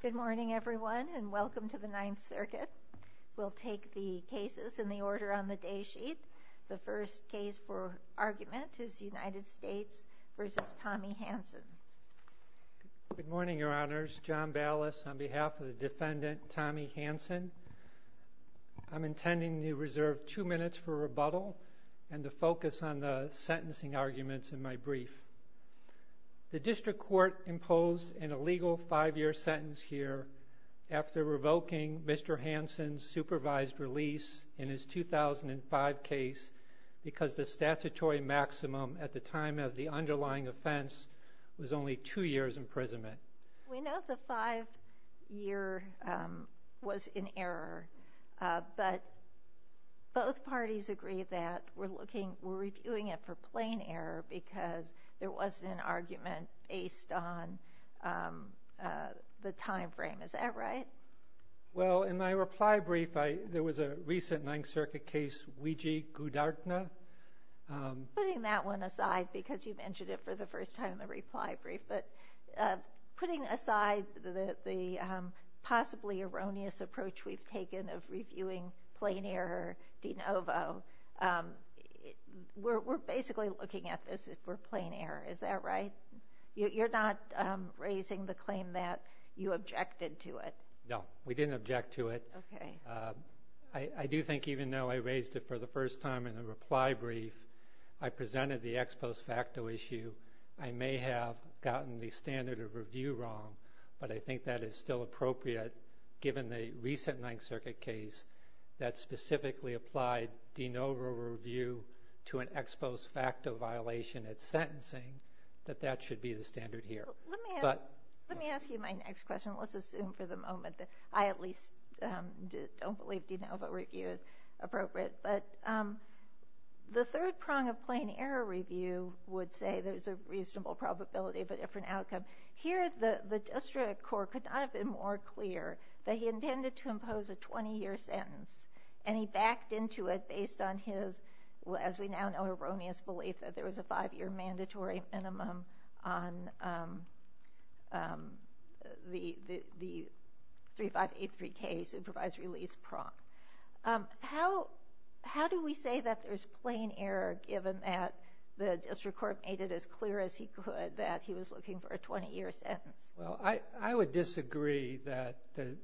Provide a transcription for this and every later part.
Good morning, everyone, and welcome to the Ninth Circuit. We'll take the cases in the order on the day sheet. The first case for argument is United States v. Tommy Hanson. Good morning, Your Honors. John Ballas on behalf of the defendant, Tommy Hanson. I'm intending to reserve two minutes for rebuttal and to focus on the sentencing arguments in my brief. The District Court imposed an illegal five-year sentence here after revoking Mr. Hanson's supervised release in his 2005 case because the statutory maximum at the time of the underlying offense was only two years' imprisonment. We know the five-year was in error, but both parties agree that we're reviewing it for plain error because there wasn't an argument based on the time frame. Is that right? Well, in my reply brief, there was a recent Ninth Circuit case, Weegee-Goudartner. Putting that one aside because you mentioned it for the first time in the reply brief, but putting aside the possibly erroneous approach we've taken of reviewing plain error de novo, we're basically looking at this for plain error. Is that right? You're not raising the claim that you objected to it? No, we didn't object to it. Okay. I do think even though I raised it for the first time in the reply brief, I presented the ex post facto issue. I may have gotten the standard of review wrong, but I think that is still appropriate given the recent Ninth Circuit case that specifically applied de novo review to an ex post facto violation at sentencing, that that should be the standard here. Let me ask you my next question. Let's assume for the moment that I at least don't believe de novo review is appropriate, but the third prong of plain error review would say there's a reasonable probability of a different outcome. Here the district court could not have been more clear that he intended to impose a 20-year sentence, and he backed into it based on his, as we now know, erroneous belief that there was a five-year mandatory minimum on the 3583K supervisory lease prong. How do we say that there's plain error given that the district court made it as clear as he could that he was looking for a 20-year sentence? Well, I would disagree that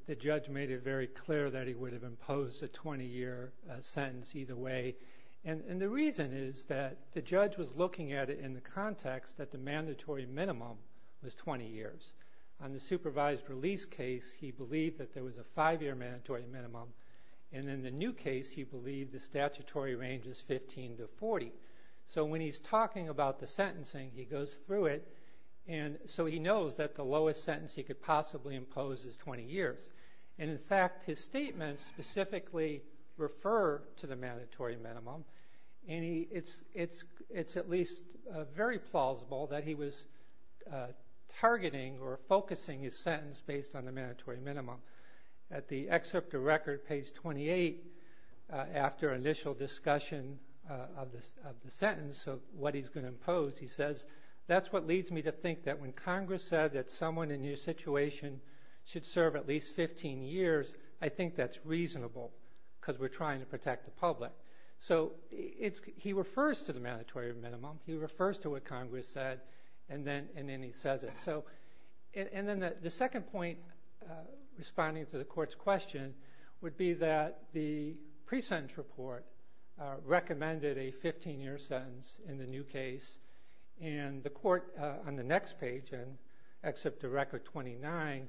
the judge made it very clear that he would have imposed a 20-year sentence either way, and the reason is that the judge was looking at it in the context that the mandatory minimum was 20 years. On the supervised release case, he believed that there was a five-year mandatory minimum, and in the new case, he believed the statutory range is 15 to 40. So when he's talking about the sentencing, he goes through it, and so he knows that the lowest sentence he could possibly impose is 20 years. In fact, his statements specifically refer to the mandatory minimum, and it's at least very plausible that he was targeting or focusing his sentence based on the mandatory minimum. At the excerpt of record, page 28, after initial discussion of the sentence of what he's going to impose, he says, that's what leads me to think that when Congress said that someone in your situation should serve at least 15 years, I think that's reasonable because we're trying to protect the public. So he refers to the mandatory minimum. He refers to what Congress said, and then he says it. Then the second point responding to the court's question would be that the pre-sentence report recommended a 15-year sentence in the new case, and the court on the next page, excerpt of record 29,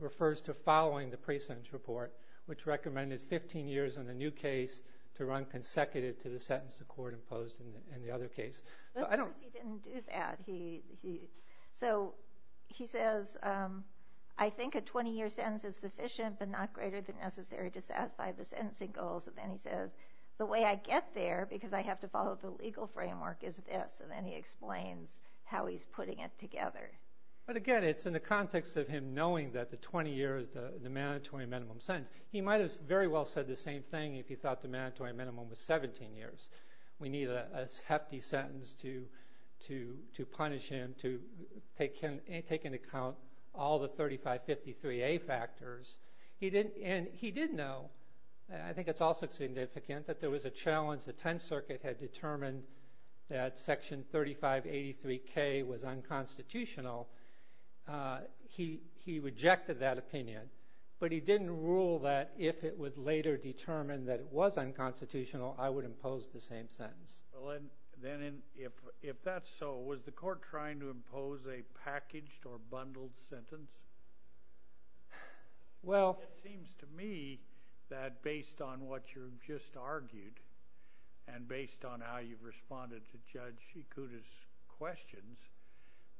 refers to following the pre-sentence report, which recommended 15 years in the new case to run consecutive to the sentence the court imposed in the other case. Of course he didn't do that. So he says, I think a 20-year sentence is sufficient but not greater than necessary to satisfy the sentencing goals. And then he says, the way I get there, because I have to follow the legal framework, is this. And then he explains how he's putting it together. But again, it's in the context of him knowing that the 20 years is the mandatory minimum sentence. He might have very well said the same thing if he thought the mandatory minimum was 17 years. We need a hefty sentence to punish him, to take into account all the 3553A factors. And he did know, and I think it's also significant, that there was a challenge the Tenth Circuit had determined that Section 3583K was unconstitutional. He rejected that opinion. But he didn't rule that if it was later determined that it was unconstitutional, I would impose the same sentence. Well, then if that's so, was the court trying to impose a packaged or bundled sentence? Well… It seems to me that based on what you've just argued, and based on how you've responded to Judge Shikuta's questions,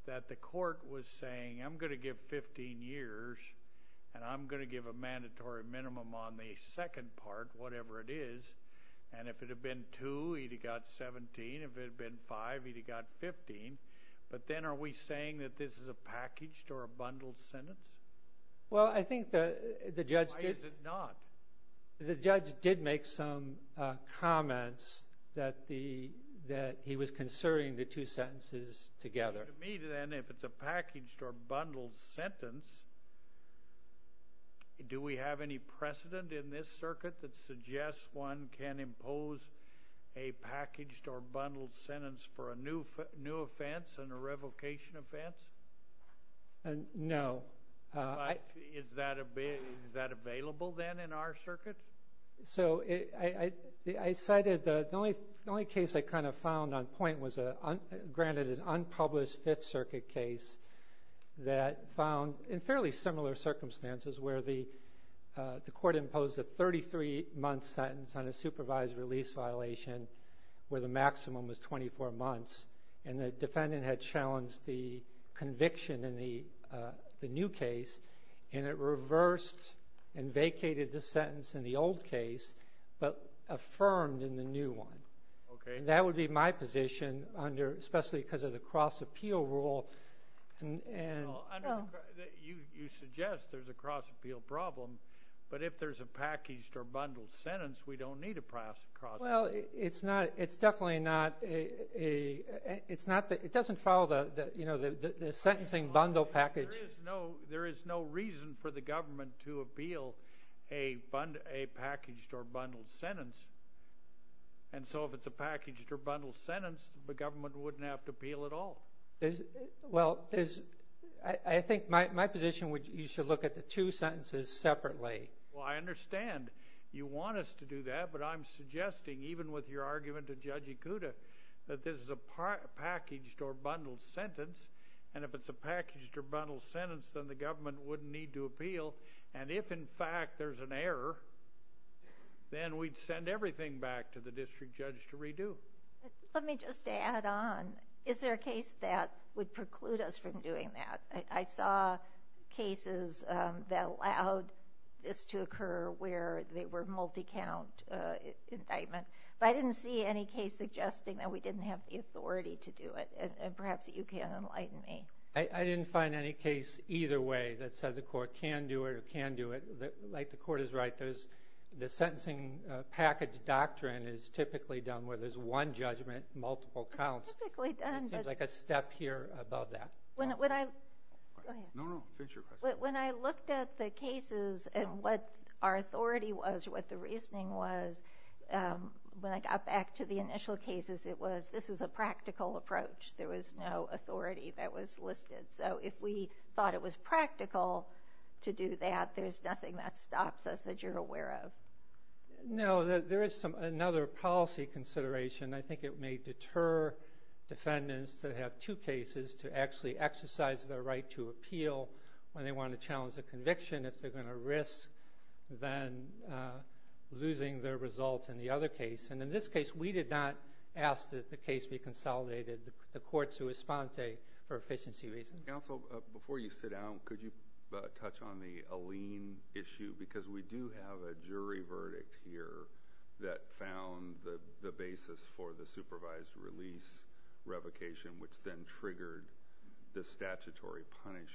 that the court was saying, I'm going to give 15 years, and I'm going to give a mandatory minimum on the second part, whatever it is. And if it had been two, he'd have got 17. If it had been five, he'd have got 15. But then are we saying that this is a packaged or a bundled sentence? Why is it not? That he was concerning the two sentences together. To me, then, if it's a packaged or bundled sentence, do we have any precedent in this circuit that suggests one can impose a packaged or bundled sentence for a new offense and a revocation offense? No. Is that available, then, in our circuit? So I cited the only case I kind of found on point was, granted, an unpublished Fifth Circuit case that found, in fairly similar circumstances, where the court imposed a 33-month sentence on a supervised release violation where the maximum was 24 months, and the defendant had challenged the conviction in the new case, and it reversed and vacated the sentence in the old case but affirmed in the new one. Okay. And that would be my position, especially because of the cross-appeal rule. You suggest there's a cross-appeal problem, but if there's a packaged or bundled sentence, we don't need a cross-appeal. Well, it's definitely not a ñ it doesn't follow the sentencing bundle package. There is no reason for the government to appeal a packaged or bundled sentence. And so if it's a packaged or bundled sentence, the government wouldn't have to appeal at all. Well, I think my position would be you should look at the two sentences separately. Well, I understand you want us to do that, but I'm suggesting, even with your argument to Judge Ikuda, that this is a packaged or bundled sentence, and if it's a packaged or bundled sentence, then the government wouldn't need to appeal. And if, in fact, there's an error, then we'd send everything back to the district judge to redo. Let me just add on. Is there a case that would preclude us from doing that? I saw cases that allowed this to occur where they were multi-count indictment, but I didn't see any case suggesting that we didn't have the authority to do it. And perhaps you can enlighten me. I didn't find any case either way that said the court can do it or can't do it. Like, the court is right. The sentencing package doctrine is typically done where there's one judgment, multiple counts. Typically done. It seems like a step here above that. Go ahead. No, no, finish your question. When I looked at the cases and what our authority was, what the reasoning was, when I got back to the initial cases, it was this is a practical approach. There was no authority that was listed. So if we thought it was practical to do that, there's nothing that stops us that you're aware of. No, there is another policy consideration. I think it may deter defendants that have two cases to actually exercise their right to appeal when they want to challenge a conviction if they're going to risk then losing their results in the other case. And in this case, we did not ask that the case be consolidated. The courts who respond say for efficiency reasons. Counsel, before you sit down, could you touch on the Alleen issue? Because we do have a jury verdict here that found the basis for the supervised release revocation, which then triggered the statutory punishment.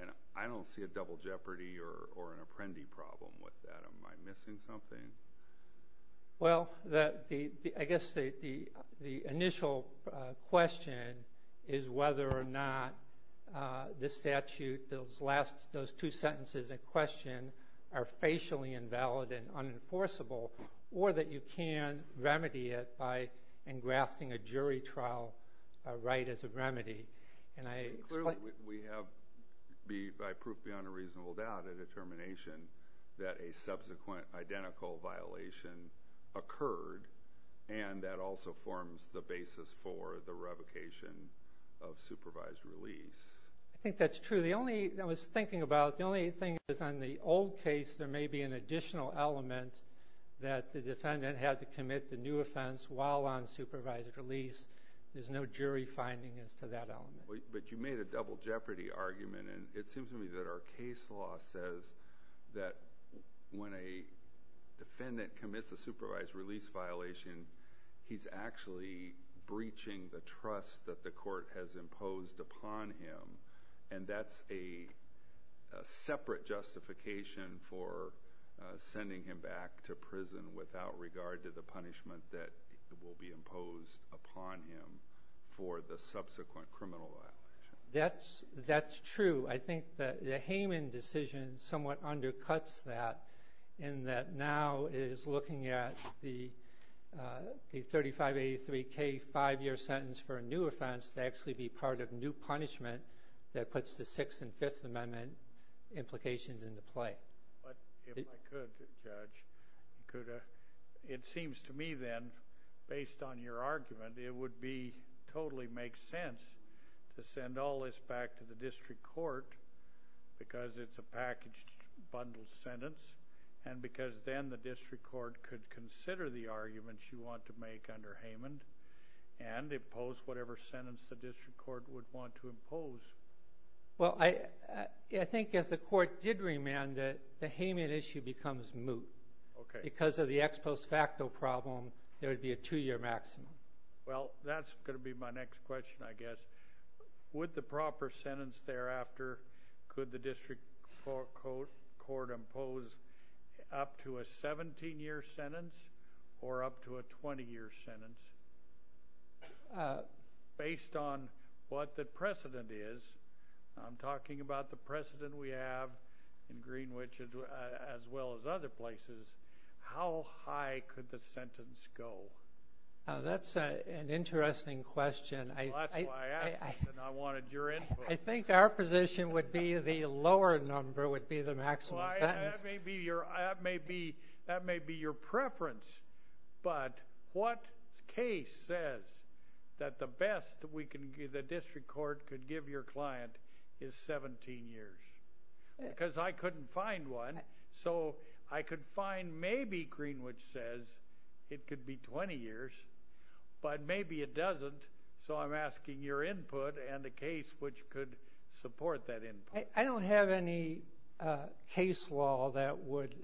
And I don't see a double jeopardy or an apprendee problem with that. Am I missing something? Well, I guess the initial question is whether or not this statute, those two sentences in question, are facially invalid and unenforceable or that you can remedy it by engrafting a jury trial right as a remedy. Clearly we have, by proof beyond a reasonable doubt, a determination that a subsequent identical violation occurred and that also forms the basis for the revocation of supervised release. I think that's true. The only thing I was thinking about, the only thing is on the old case, there may be an additional element that the defendant had to commit the new offense while on supervised release. There's no jury finding as to that element. But you made a double jeopardy argument, and it seems to me that our case law says that when a defendant commits a supervised release violation, he's actually breaching the trust that the court has imposed upon him, and that's a separate justification for sending him back to prison without regard to the punishment that will be imposed upon him for the subsequent criminal violation. That's true. I think the Hayman decision somewhat undercuts that, in that now it is looking at the 3583K five-year sentence for a new offense to actually be part of new punishment that puts the Sixth and Fifth Amendment implications into play. But if I could, Judge, it seems to me then, based on your argument, it would totally make sense to send all this back to the district court because it's a packaged, bundled sentence and because then the district court could consider the arguments you want to make under Hayman and impose whatever sentence the district court would want to impose. Well, I think if the court did remand it, the Hayman issue becomes moot. Okay. Because of the ex post facto problem, there would be a two-year maximum. Well, that's going to be my next question, I guess. With the proper sentence thereafter, could the district court impose up to a 17-year sentence or up to a 20-year sentence based on what the precedent is? I'm talking about the precedent we have in Greenwich as well as other places. How high could the sentence go? That's an interesting question. Well, that's why I asked you and I wanted your input. I think our position would be the lower number would be the maximum sentence. That may be your preference. But what case says that the best the district court could give your client is 17 years? Because I couldn't find one. So I could find maybe Greenwich says it could be 20 years, but maybe it doesn't. So I'm asking your input and a case which could support that input. I don't have any case law that would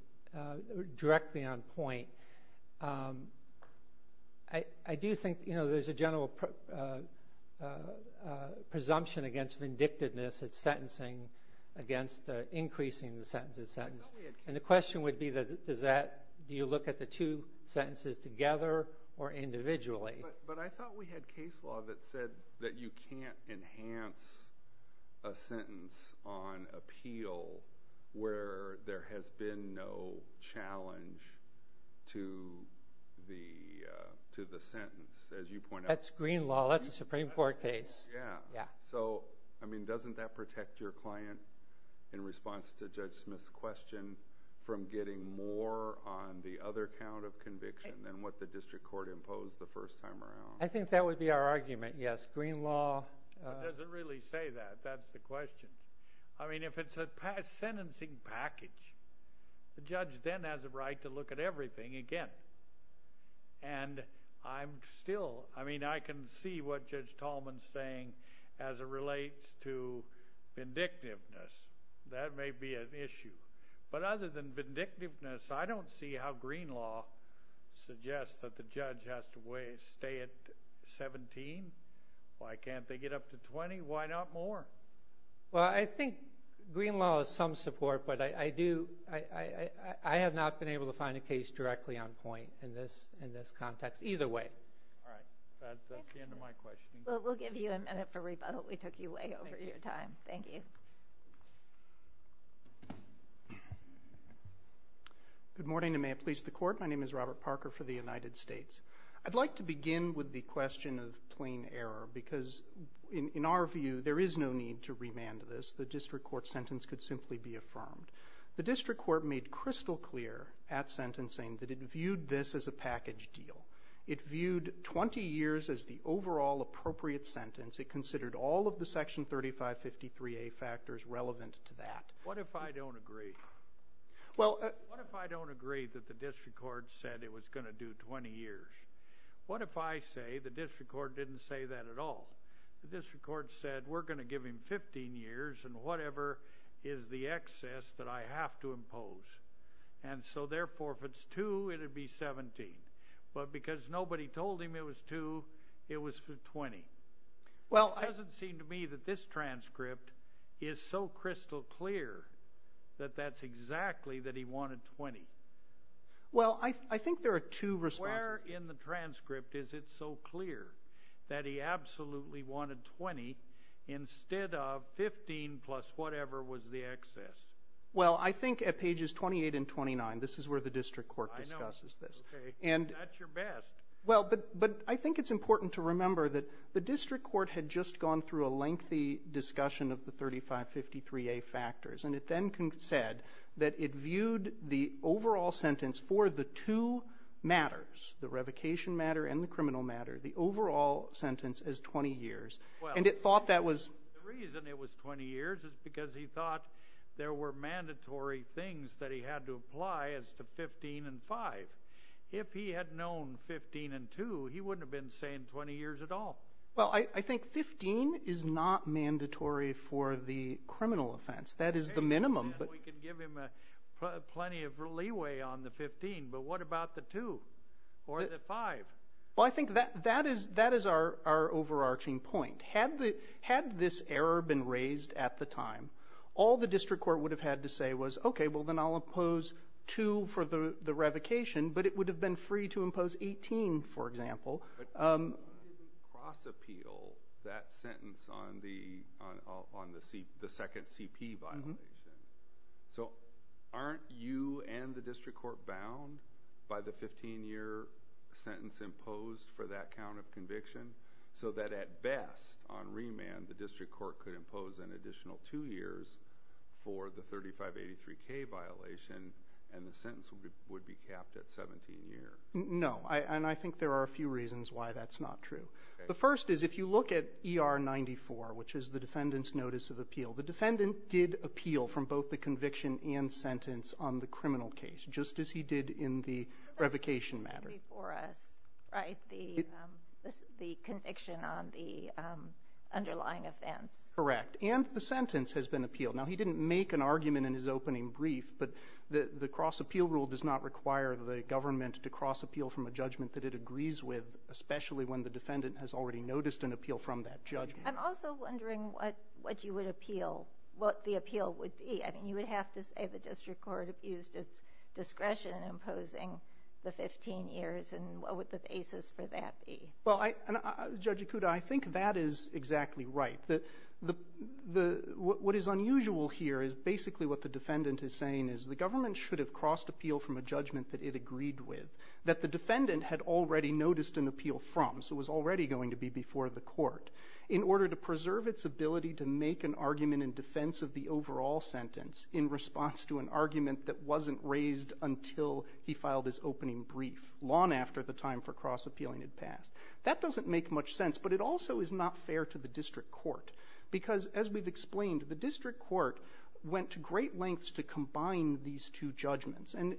directly on point. I do think there's a general presumption against vindictiveness at sentencing against increasing the sentence. And the question would be, do you look at the two sentences together or individually? But I thought we had case law that said that you can't enhance a sentence on appeal where there has been no challenge to the sentence, as you point out. That's Green law. That's a Supreme Court case. Yeah. So, I mean, doesn't that protect your client in response to Judge Smith's question from getting more on the other count of conviction than what the district court imposed the first time around? I think that would be our argument, yes. Green law— It doesn't really say that. That's the question. I mean, if it's a sentencing package, the judge then has a right to look at everything again. And I'm still—I mean, I can see what Judge Tallman's saying as it relates to vindictiveness. That may be an issue. But other than vindictiveness, I don't see how green law suggests that the judge has to stay at 17. Why can't they get up to 20? Why not more? Well, I think green law has some support, but I have not been able to find a case directly on point in this context, either way. All right. That's the end of my questioning. Well, we'll give you a minute for rebuttal. We took you way over your time. Thank you. Thank you. Good morning, and may it please the Court. My name is Robert Parker for the United States. I'd like to begin with the question of plain error because, in our view, there is no need to remand this. The district court sentence could simply be affirmed. The district court made crystal clear at sentencing that it viewed this as a package deal. It viewed 20 years as the overall appropriate sentence. It considered all of the Section 3553A factors relevant to that. What if I don't agree? What if I don't agree that the district court said it was going to do 20 years? What if I say the district court didn't say that at all? The district court said we're going to give him 15 years and whatever is the excess that I have to impose. And so, therefore, if it's 2, it would be 17. But because nobody told him it was 2, it was 20. It doesn't seem to me that this transcript is so crystal clear that that's exactly that he wanted 20. Well, I think there are two responses. Where in the transcript is it so clear that he absolutely wanted 20 instead of 15 plus whatever was the excess? Well, I think at pages 28 and 29, this is where the district court discusses this. Okay. And that's your best. Well, but I think it's important to remember that the district court had just gone through a lengthy discussion of the 3553A factors. And it then said that it viewed the overall sentence for the two matters, the revocation matter and the criminal matter, the overall sentence as 20 years. Well, the reason it was 20 years is because he thought there were mandatory things that he had to apply as to 15 and 5. If he had known 15 and 2, he wouldn't have been saying 20 years at all. Well, I think 15 is not mandatory for the criminal offense. That is the minimum. We can give him plenty of leeway on the 15, but what about the 2 or the 5? Well, I think that is our overarching point. Had this error been raised at the time, all the district court would have had to say was, okay, well, then I'll impose 2 for the revocation, but it would have been free to impose 18, for example. But why did we cross-appeal that sentence on the second CP violation? So aren't you and the district court bound by the 15-year sentence imposed for that count of conviction so that at best on remand the district court could impose an additional 2 years for the 3583K violation and the sentence would be capped at 17 years? No, and I think there are a few reasons why that's not true. The first is if you look at ER 94, which is the defendant's notice of appeal, the defendant did appeal from both the conviction and sentence on the criminal case, just as he did in the revocation matter. Before us, right, the conviction on the underlying offense. Correct, and the sentence has been appealed. Now, he didn't make an argument in his opening brief, but the cross-appeal rule does not require the government to cross-appeal from a judgment that it agrees with, especially when the defendant has already noticed an appeal from that judgment. I'm also wondering what you would appeal, what the appeal would be. I mean, you would have to say the district court abused its discretion in imposing the 15 years, and what would the basis for that be? Well, Judge Ikuda, I think that is exactly right. What is unusual here is basically what the defendant is saying is the government should have crossed appeal from a judgment that it agreed with, that the defendant had already noticed an appeal from, so it was already going to be before the court. In order to preserve its ability to make an argument in defense of the overall sentence in response to an argument that wasn't raised until he filed his opening brief, long after the time for cross-appealing had passed. That doesn't make much sense, but it also is not fair to the district court, because as we've explained, the district court went to great lengths to combine these two judgments, and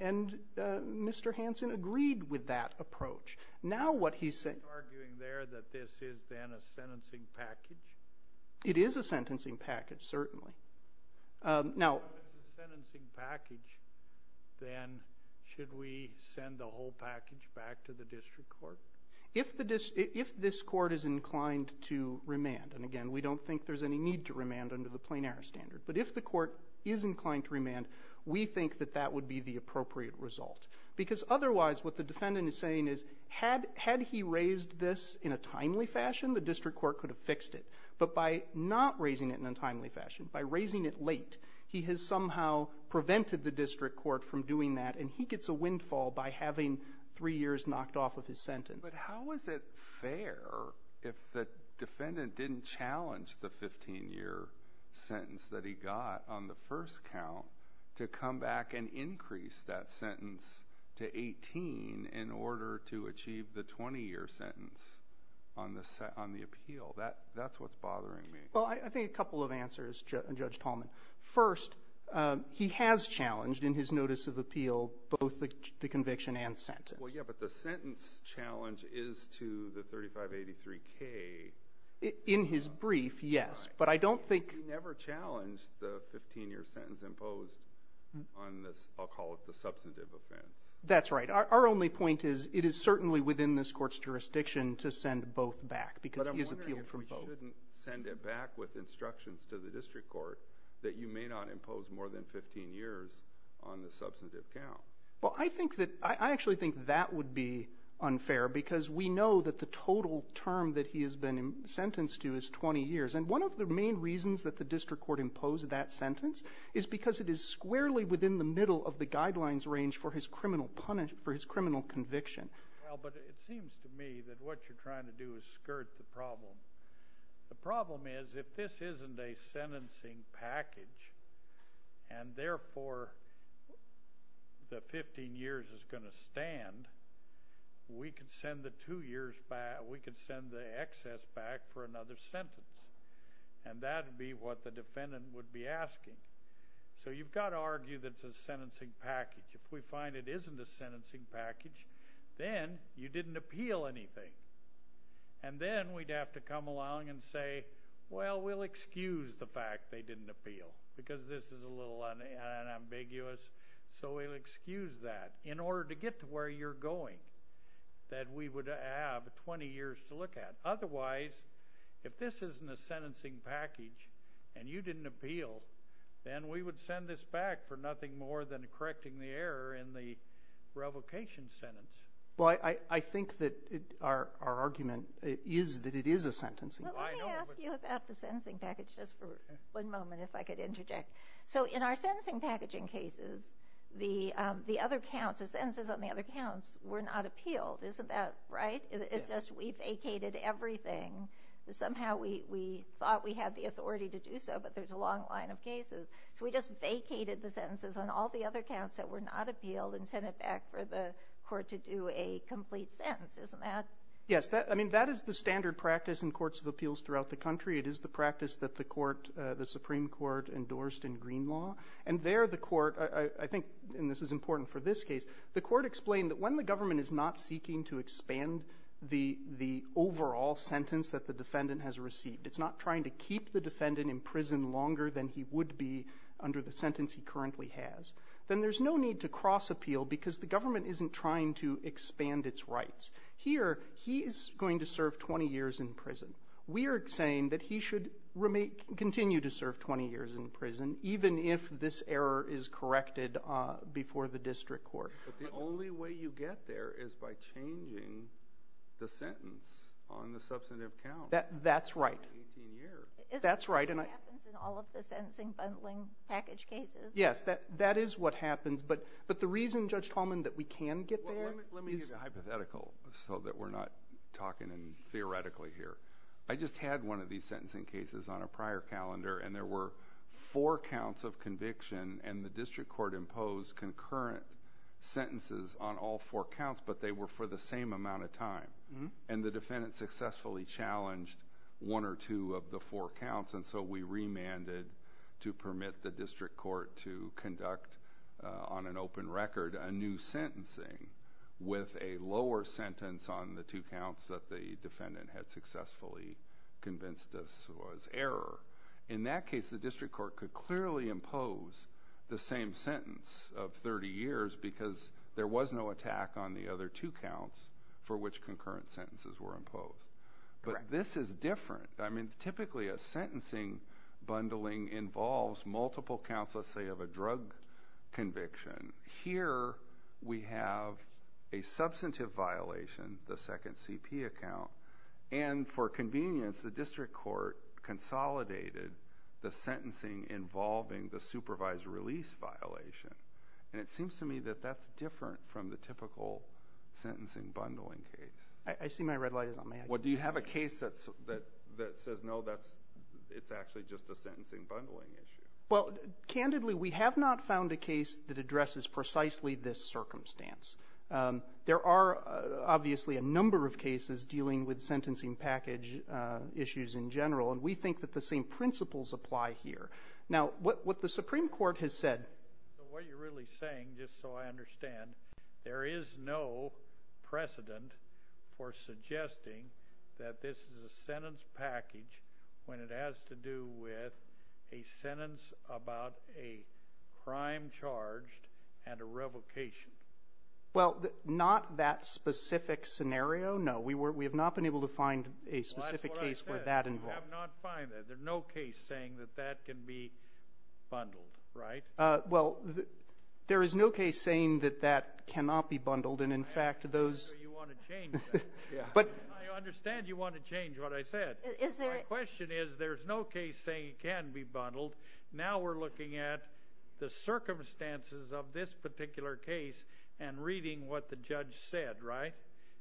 Mr. Hansen agreed with that approach. Are you arguing there that this is then a sentencing package? It is a sentencing package, certainly. If it's a sentencing package, then should we send the whole package back to the district court? If this court is inclined to remand, and again, we don't think there's any need to remand under the plain error standard, but if the court is inclined to remand, we think that that would be the appropriate result. Because otherwise, what the defendant is saying is, had he raised this in a timely fashion, the district court could have fixed it. But by not raising it in a timely fashion, by raising it late, he has somehow prevented the district court from doing that, and he gets a windfall by having three years knocked off of his sentence. But how is it fair if the defendant didn't challenge the 15-year sentence that he got on the first count to come back and increase that sentence to 18 in order to achieve the 20-year sentence on the appeal? That's what's bothering me. Well, I think a couple of answers, Judge Tallman. First, he has challenged in his notice of appeal both the conviction and sentence. Well, yeah, but the sentence challenge is to the 3583-K. In his brief, yes. But I don't think he ever challenged the 15-year sentence. The 15-year sentence imposed on this, I'll call it the substantive offense. That's right. Our only point is it is certainly within this court's jurisdiction to send both back because he has appealed for both. But I'm wondering if we shouldn't send it back with instructions to the district court that you may not impose more than 15 years on the substantive count. Well, I think that – I actually think that would be unfair because we know that the total term that he has been sentenced to is 20 years. And one of the main reasons that the district court imposed that sentence is because it is squarely within the middle of the guidelines range for his criminal conviction. Well, but it seems to me that what you're trying to do is skirt the problem. The problem is if this isn't a sentencing package we could send the excess back for another sentence. And that would be what the defendant would be asking. So you've got to argue that it's a sentencing package. If we find it isn't a sentencing package, then you didn't appeal anything. And then we'd have to come along and say, well, we'll excuse the fact they didn't appeal because this is a little unambiguous. So we'll excuse that. In order to get to where you're going that we would have 20 years to look at. Otherwise, if this isn't a sentencing package and you didn't appeal, then we would send this back for nothing more than correcting the error in the revocation sentence. Well, I think that our argument is that it is a sentencing package. Well, let me ask you about the sentencing package just for one moment if I could interject. So in our sentencing packaging cases, the other counts, the sentences on the other counts were not appealed, isn't that right? It's just we vacated everything. Somehow we thought we had the authority to do so, but there's a long line of cases. So we just vacated the sentences on all the other counts that were not appealed and sent it back for the court to do a complete sentence, isn't that? Yes. I mean, that is the standard practice in courts of appeals throughout the country. It is the practice that the court, the Supreme Court endorsed in Green Law. And there the court, I think, and this is important for this case, the court explained that when the government is not seeking to expand the overall sentence that the defendant has received, it's not trying to keep the defendant in prison longer than he would be under the sentence he currently has, then there's no need to cross-appeal because the government isn't trying to expand its rights. Here, he is going to serve 20 years in prison. We are saying that he should continue to serve 20 years in prison even if this error is corrected before the district court. But the only way you get there is by changing the sentence on the substantive count. That's right. For 18 years. That's right. Is that what happens in all of the sentencing bundling package cases? Yes, that is what happens. But the reason, Judge Tallman, that we can get there is – I just had one of these sentencing cases on a prior calendar, and there were four counts of conviction, and the district court imposed concurrent sentences on all four counts, but they were for the same amount of time. And the defendant successfully challenged one or two of the four counts, and so we remanded to permit the district court to conduct on an open record a new sentencing with a lower sentence on the two counts that the defendant had successfully convinced this was error. In that case, the district court could clearly impose the same sentence of 30 years because there was no attack on the other two counts for which concurrent sentences were imposed. But this is different. I mean, typically a sentencing bundling involves multiple counts, let's say, of a drug conviction. Here we have a substantive violation, the second CP account, and for convenience the district court consolidated the sentencing involving the supervised release violation. And it seems to me that that's different from the typical sentencing bundling case. I see my red light is on. Well, do you have a case that says, no, it's actually just a sentencing bundling issue? Well, candidly, we have not found a case that addresses precisely this circumstance. There are obviously a number of cases dealing with sentencing package issues in general, and we think that the same principles apply here. Now, what the Supreme Court has said. What you're really saying, just so I understand, there is no precedent for suggesting that this is a sentence package when it has to do with a sentence about a crime charged and a revocation. Well, not that specific scenario, no. We have not been able to find a specific case where that involved. Well, that's what I said. We have not found that. There's no case saying that that can be bundled, right? Well, there is no case saying that that cannot be bundled, and, in fact, those ---- I understand you want to change that. I understand you want to change what I said. My question is there's no case saying it can be bundled. Now we're looking at the circumstances of this particular case and reading what the judge said, right,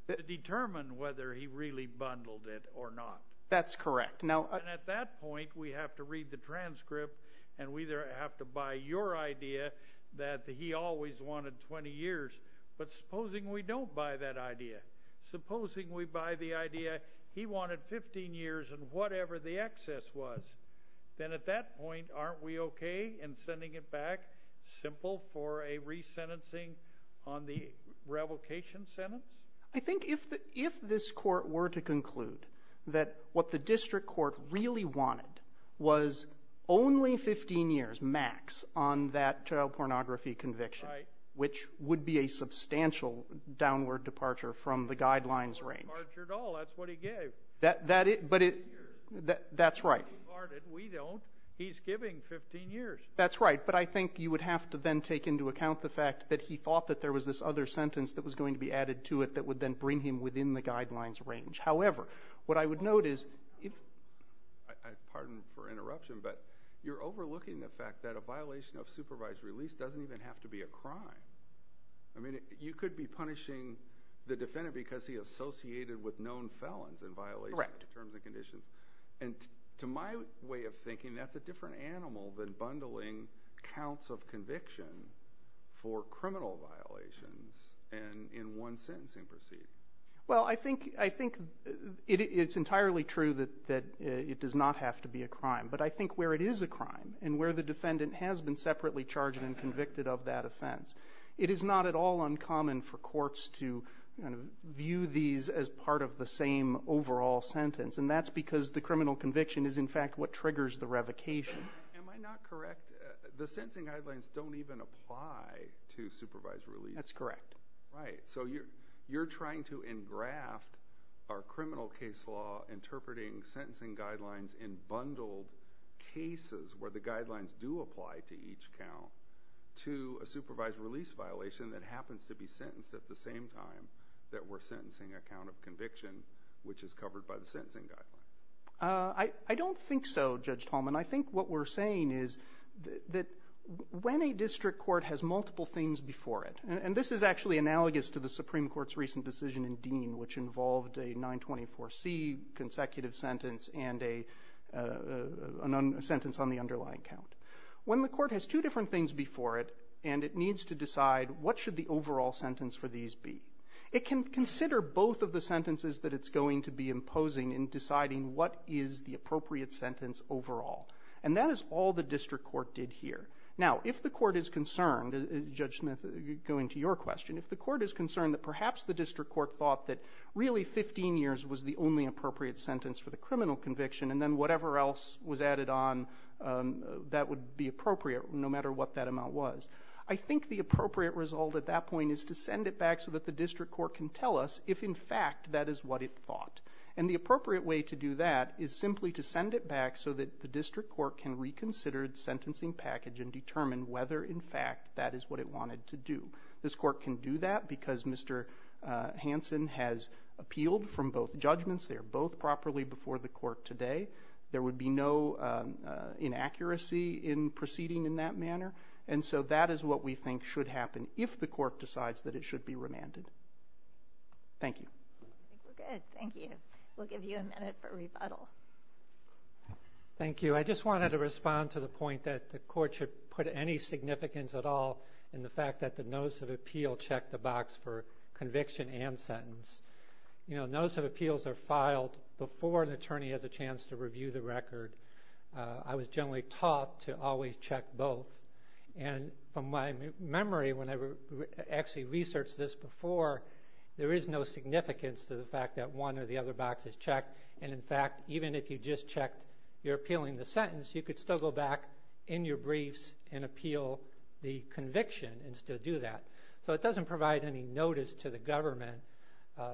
to determine whether he really bundled it or not. That's correct. And at that point, we have to read the transcript, and we have to buy your idea that he always wanted 20 years. But supposing we don't buy that idea, supposing we buy the idea he wanted 15 years and whatever the excess was, then at that point aren't we okay in sending it back, simple for a resentencing on the revocation sentence? I think if this court were to conclude that what the district court really wanted was only 15 years max on that child pornography conviction, which would be a substantial downward departure from the guidelines range. It's not a departure at all. That's what he gave. That's right. We don't. He's giving 15 years. That's right. But I think you would have to then take into account the fact that he thought that there was this other sentence that was going to be added to it that would then bring him within the guidelines range. However, what I would note is if ---- Pardon for interruption, but you're overlooking the fact that a violation of supervised release doesn't even have to be a crime. I mean, you could be punishing the defendant because he associated with known felons in violation of terms and conditions. Correct. And to my way of thinking, that's a different animal than bundling counts of conviction for criminal violations in one sentencing proceeding. But I think where it is a crime and where the defendant has been separately charged and convicted of that offense, it is not at all uncommon for courts to view these as part of the same overall sentence, and that's because the criminal conviction is, in fact, what triggers the revocation. Am I not correct? The sentencing guidelines don't even apply to supervised release. That's correct. Right. So you're trying to engraft our criminal case law in interpreting sentencing guidelines in bundled cases where the guidelines do apply to each count to a supervised release violation that happens to be sentenced at the same time that we're sentencing a count of conviction, which is covered by the sentencing guidelines. I don't think so, Judge Tallman. I think what we're saying is that when a district court has multiple things before it, which involved a 924C consecutive sentence and a sentence on the underlying count, when the court has two different things before it and it needs to decide what should the overall sentence for these be, it can consider both of the sentences that it's going to be imposing in deciding what is the appropriate sentence overall. And that is all the district court did here. Now, if the court is concerned, Judge Smith, going to your question, if the court is concerned that perhaps the district court thought that really 15 years was the only appropriate sentence for the criminal conviction and then whatever else was added on that would be appropriate no matter what that amount was, I think the appropriate result at that point is to send it back so that the district court can tell us if, in fact, that is what it thought. And the appropriate way to do that is simply to send it back so that the district court can reconsider its sentencing package and determine whether, in fact, that is what it wanted to do. This court can do that because Mr. Hansen has appealed from both judgments. They are both properly before the court today. There would be no inaccuracy in proceeding in that manner. And so that is what we think should happen if the court decides that it should be remanded. Thank you. I think we're good. Thank you. We'll give you a minute for rebuttal. Thank you. I just wanted to respond to the point that the court should put any significance at all in the fact that the notice of appeal checked the box for conviction and sentence. You know, notice of appeals are filed before an attorney has a chance to review the record. I was generally taught to always check both. And from my memory, when I actually researched this before, there is no significance to the fact that one or the other box is checked. And, in fact, even if you just checked you're appealing the sentence, you could still go back in your briefs and appeal the conviction and still do that. So it doesn't provide any notice to the government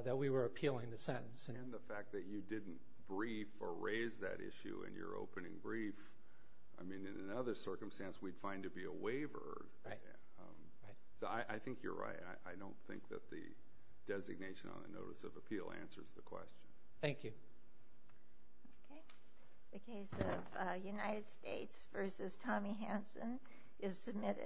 that we were appealing the sentence. And the fact that you didn't brief or raise that issue in your opening brief, I mean, in another circumstance we'd find it to be a waiver. Right. So I think you're right. I don't think that the designation on the notice of appeal answers the question. Thank you. Okay. The case of United States v. Tommy Hansen is submitted.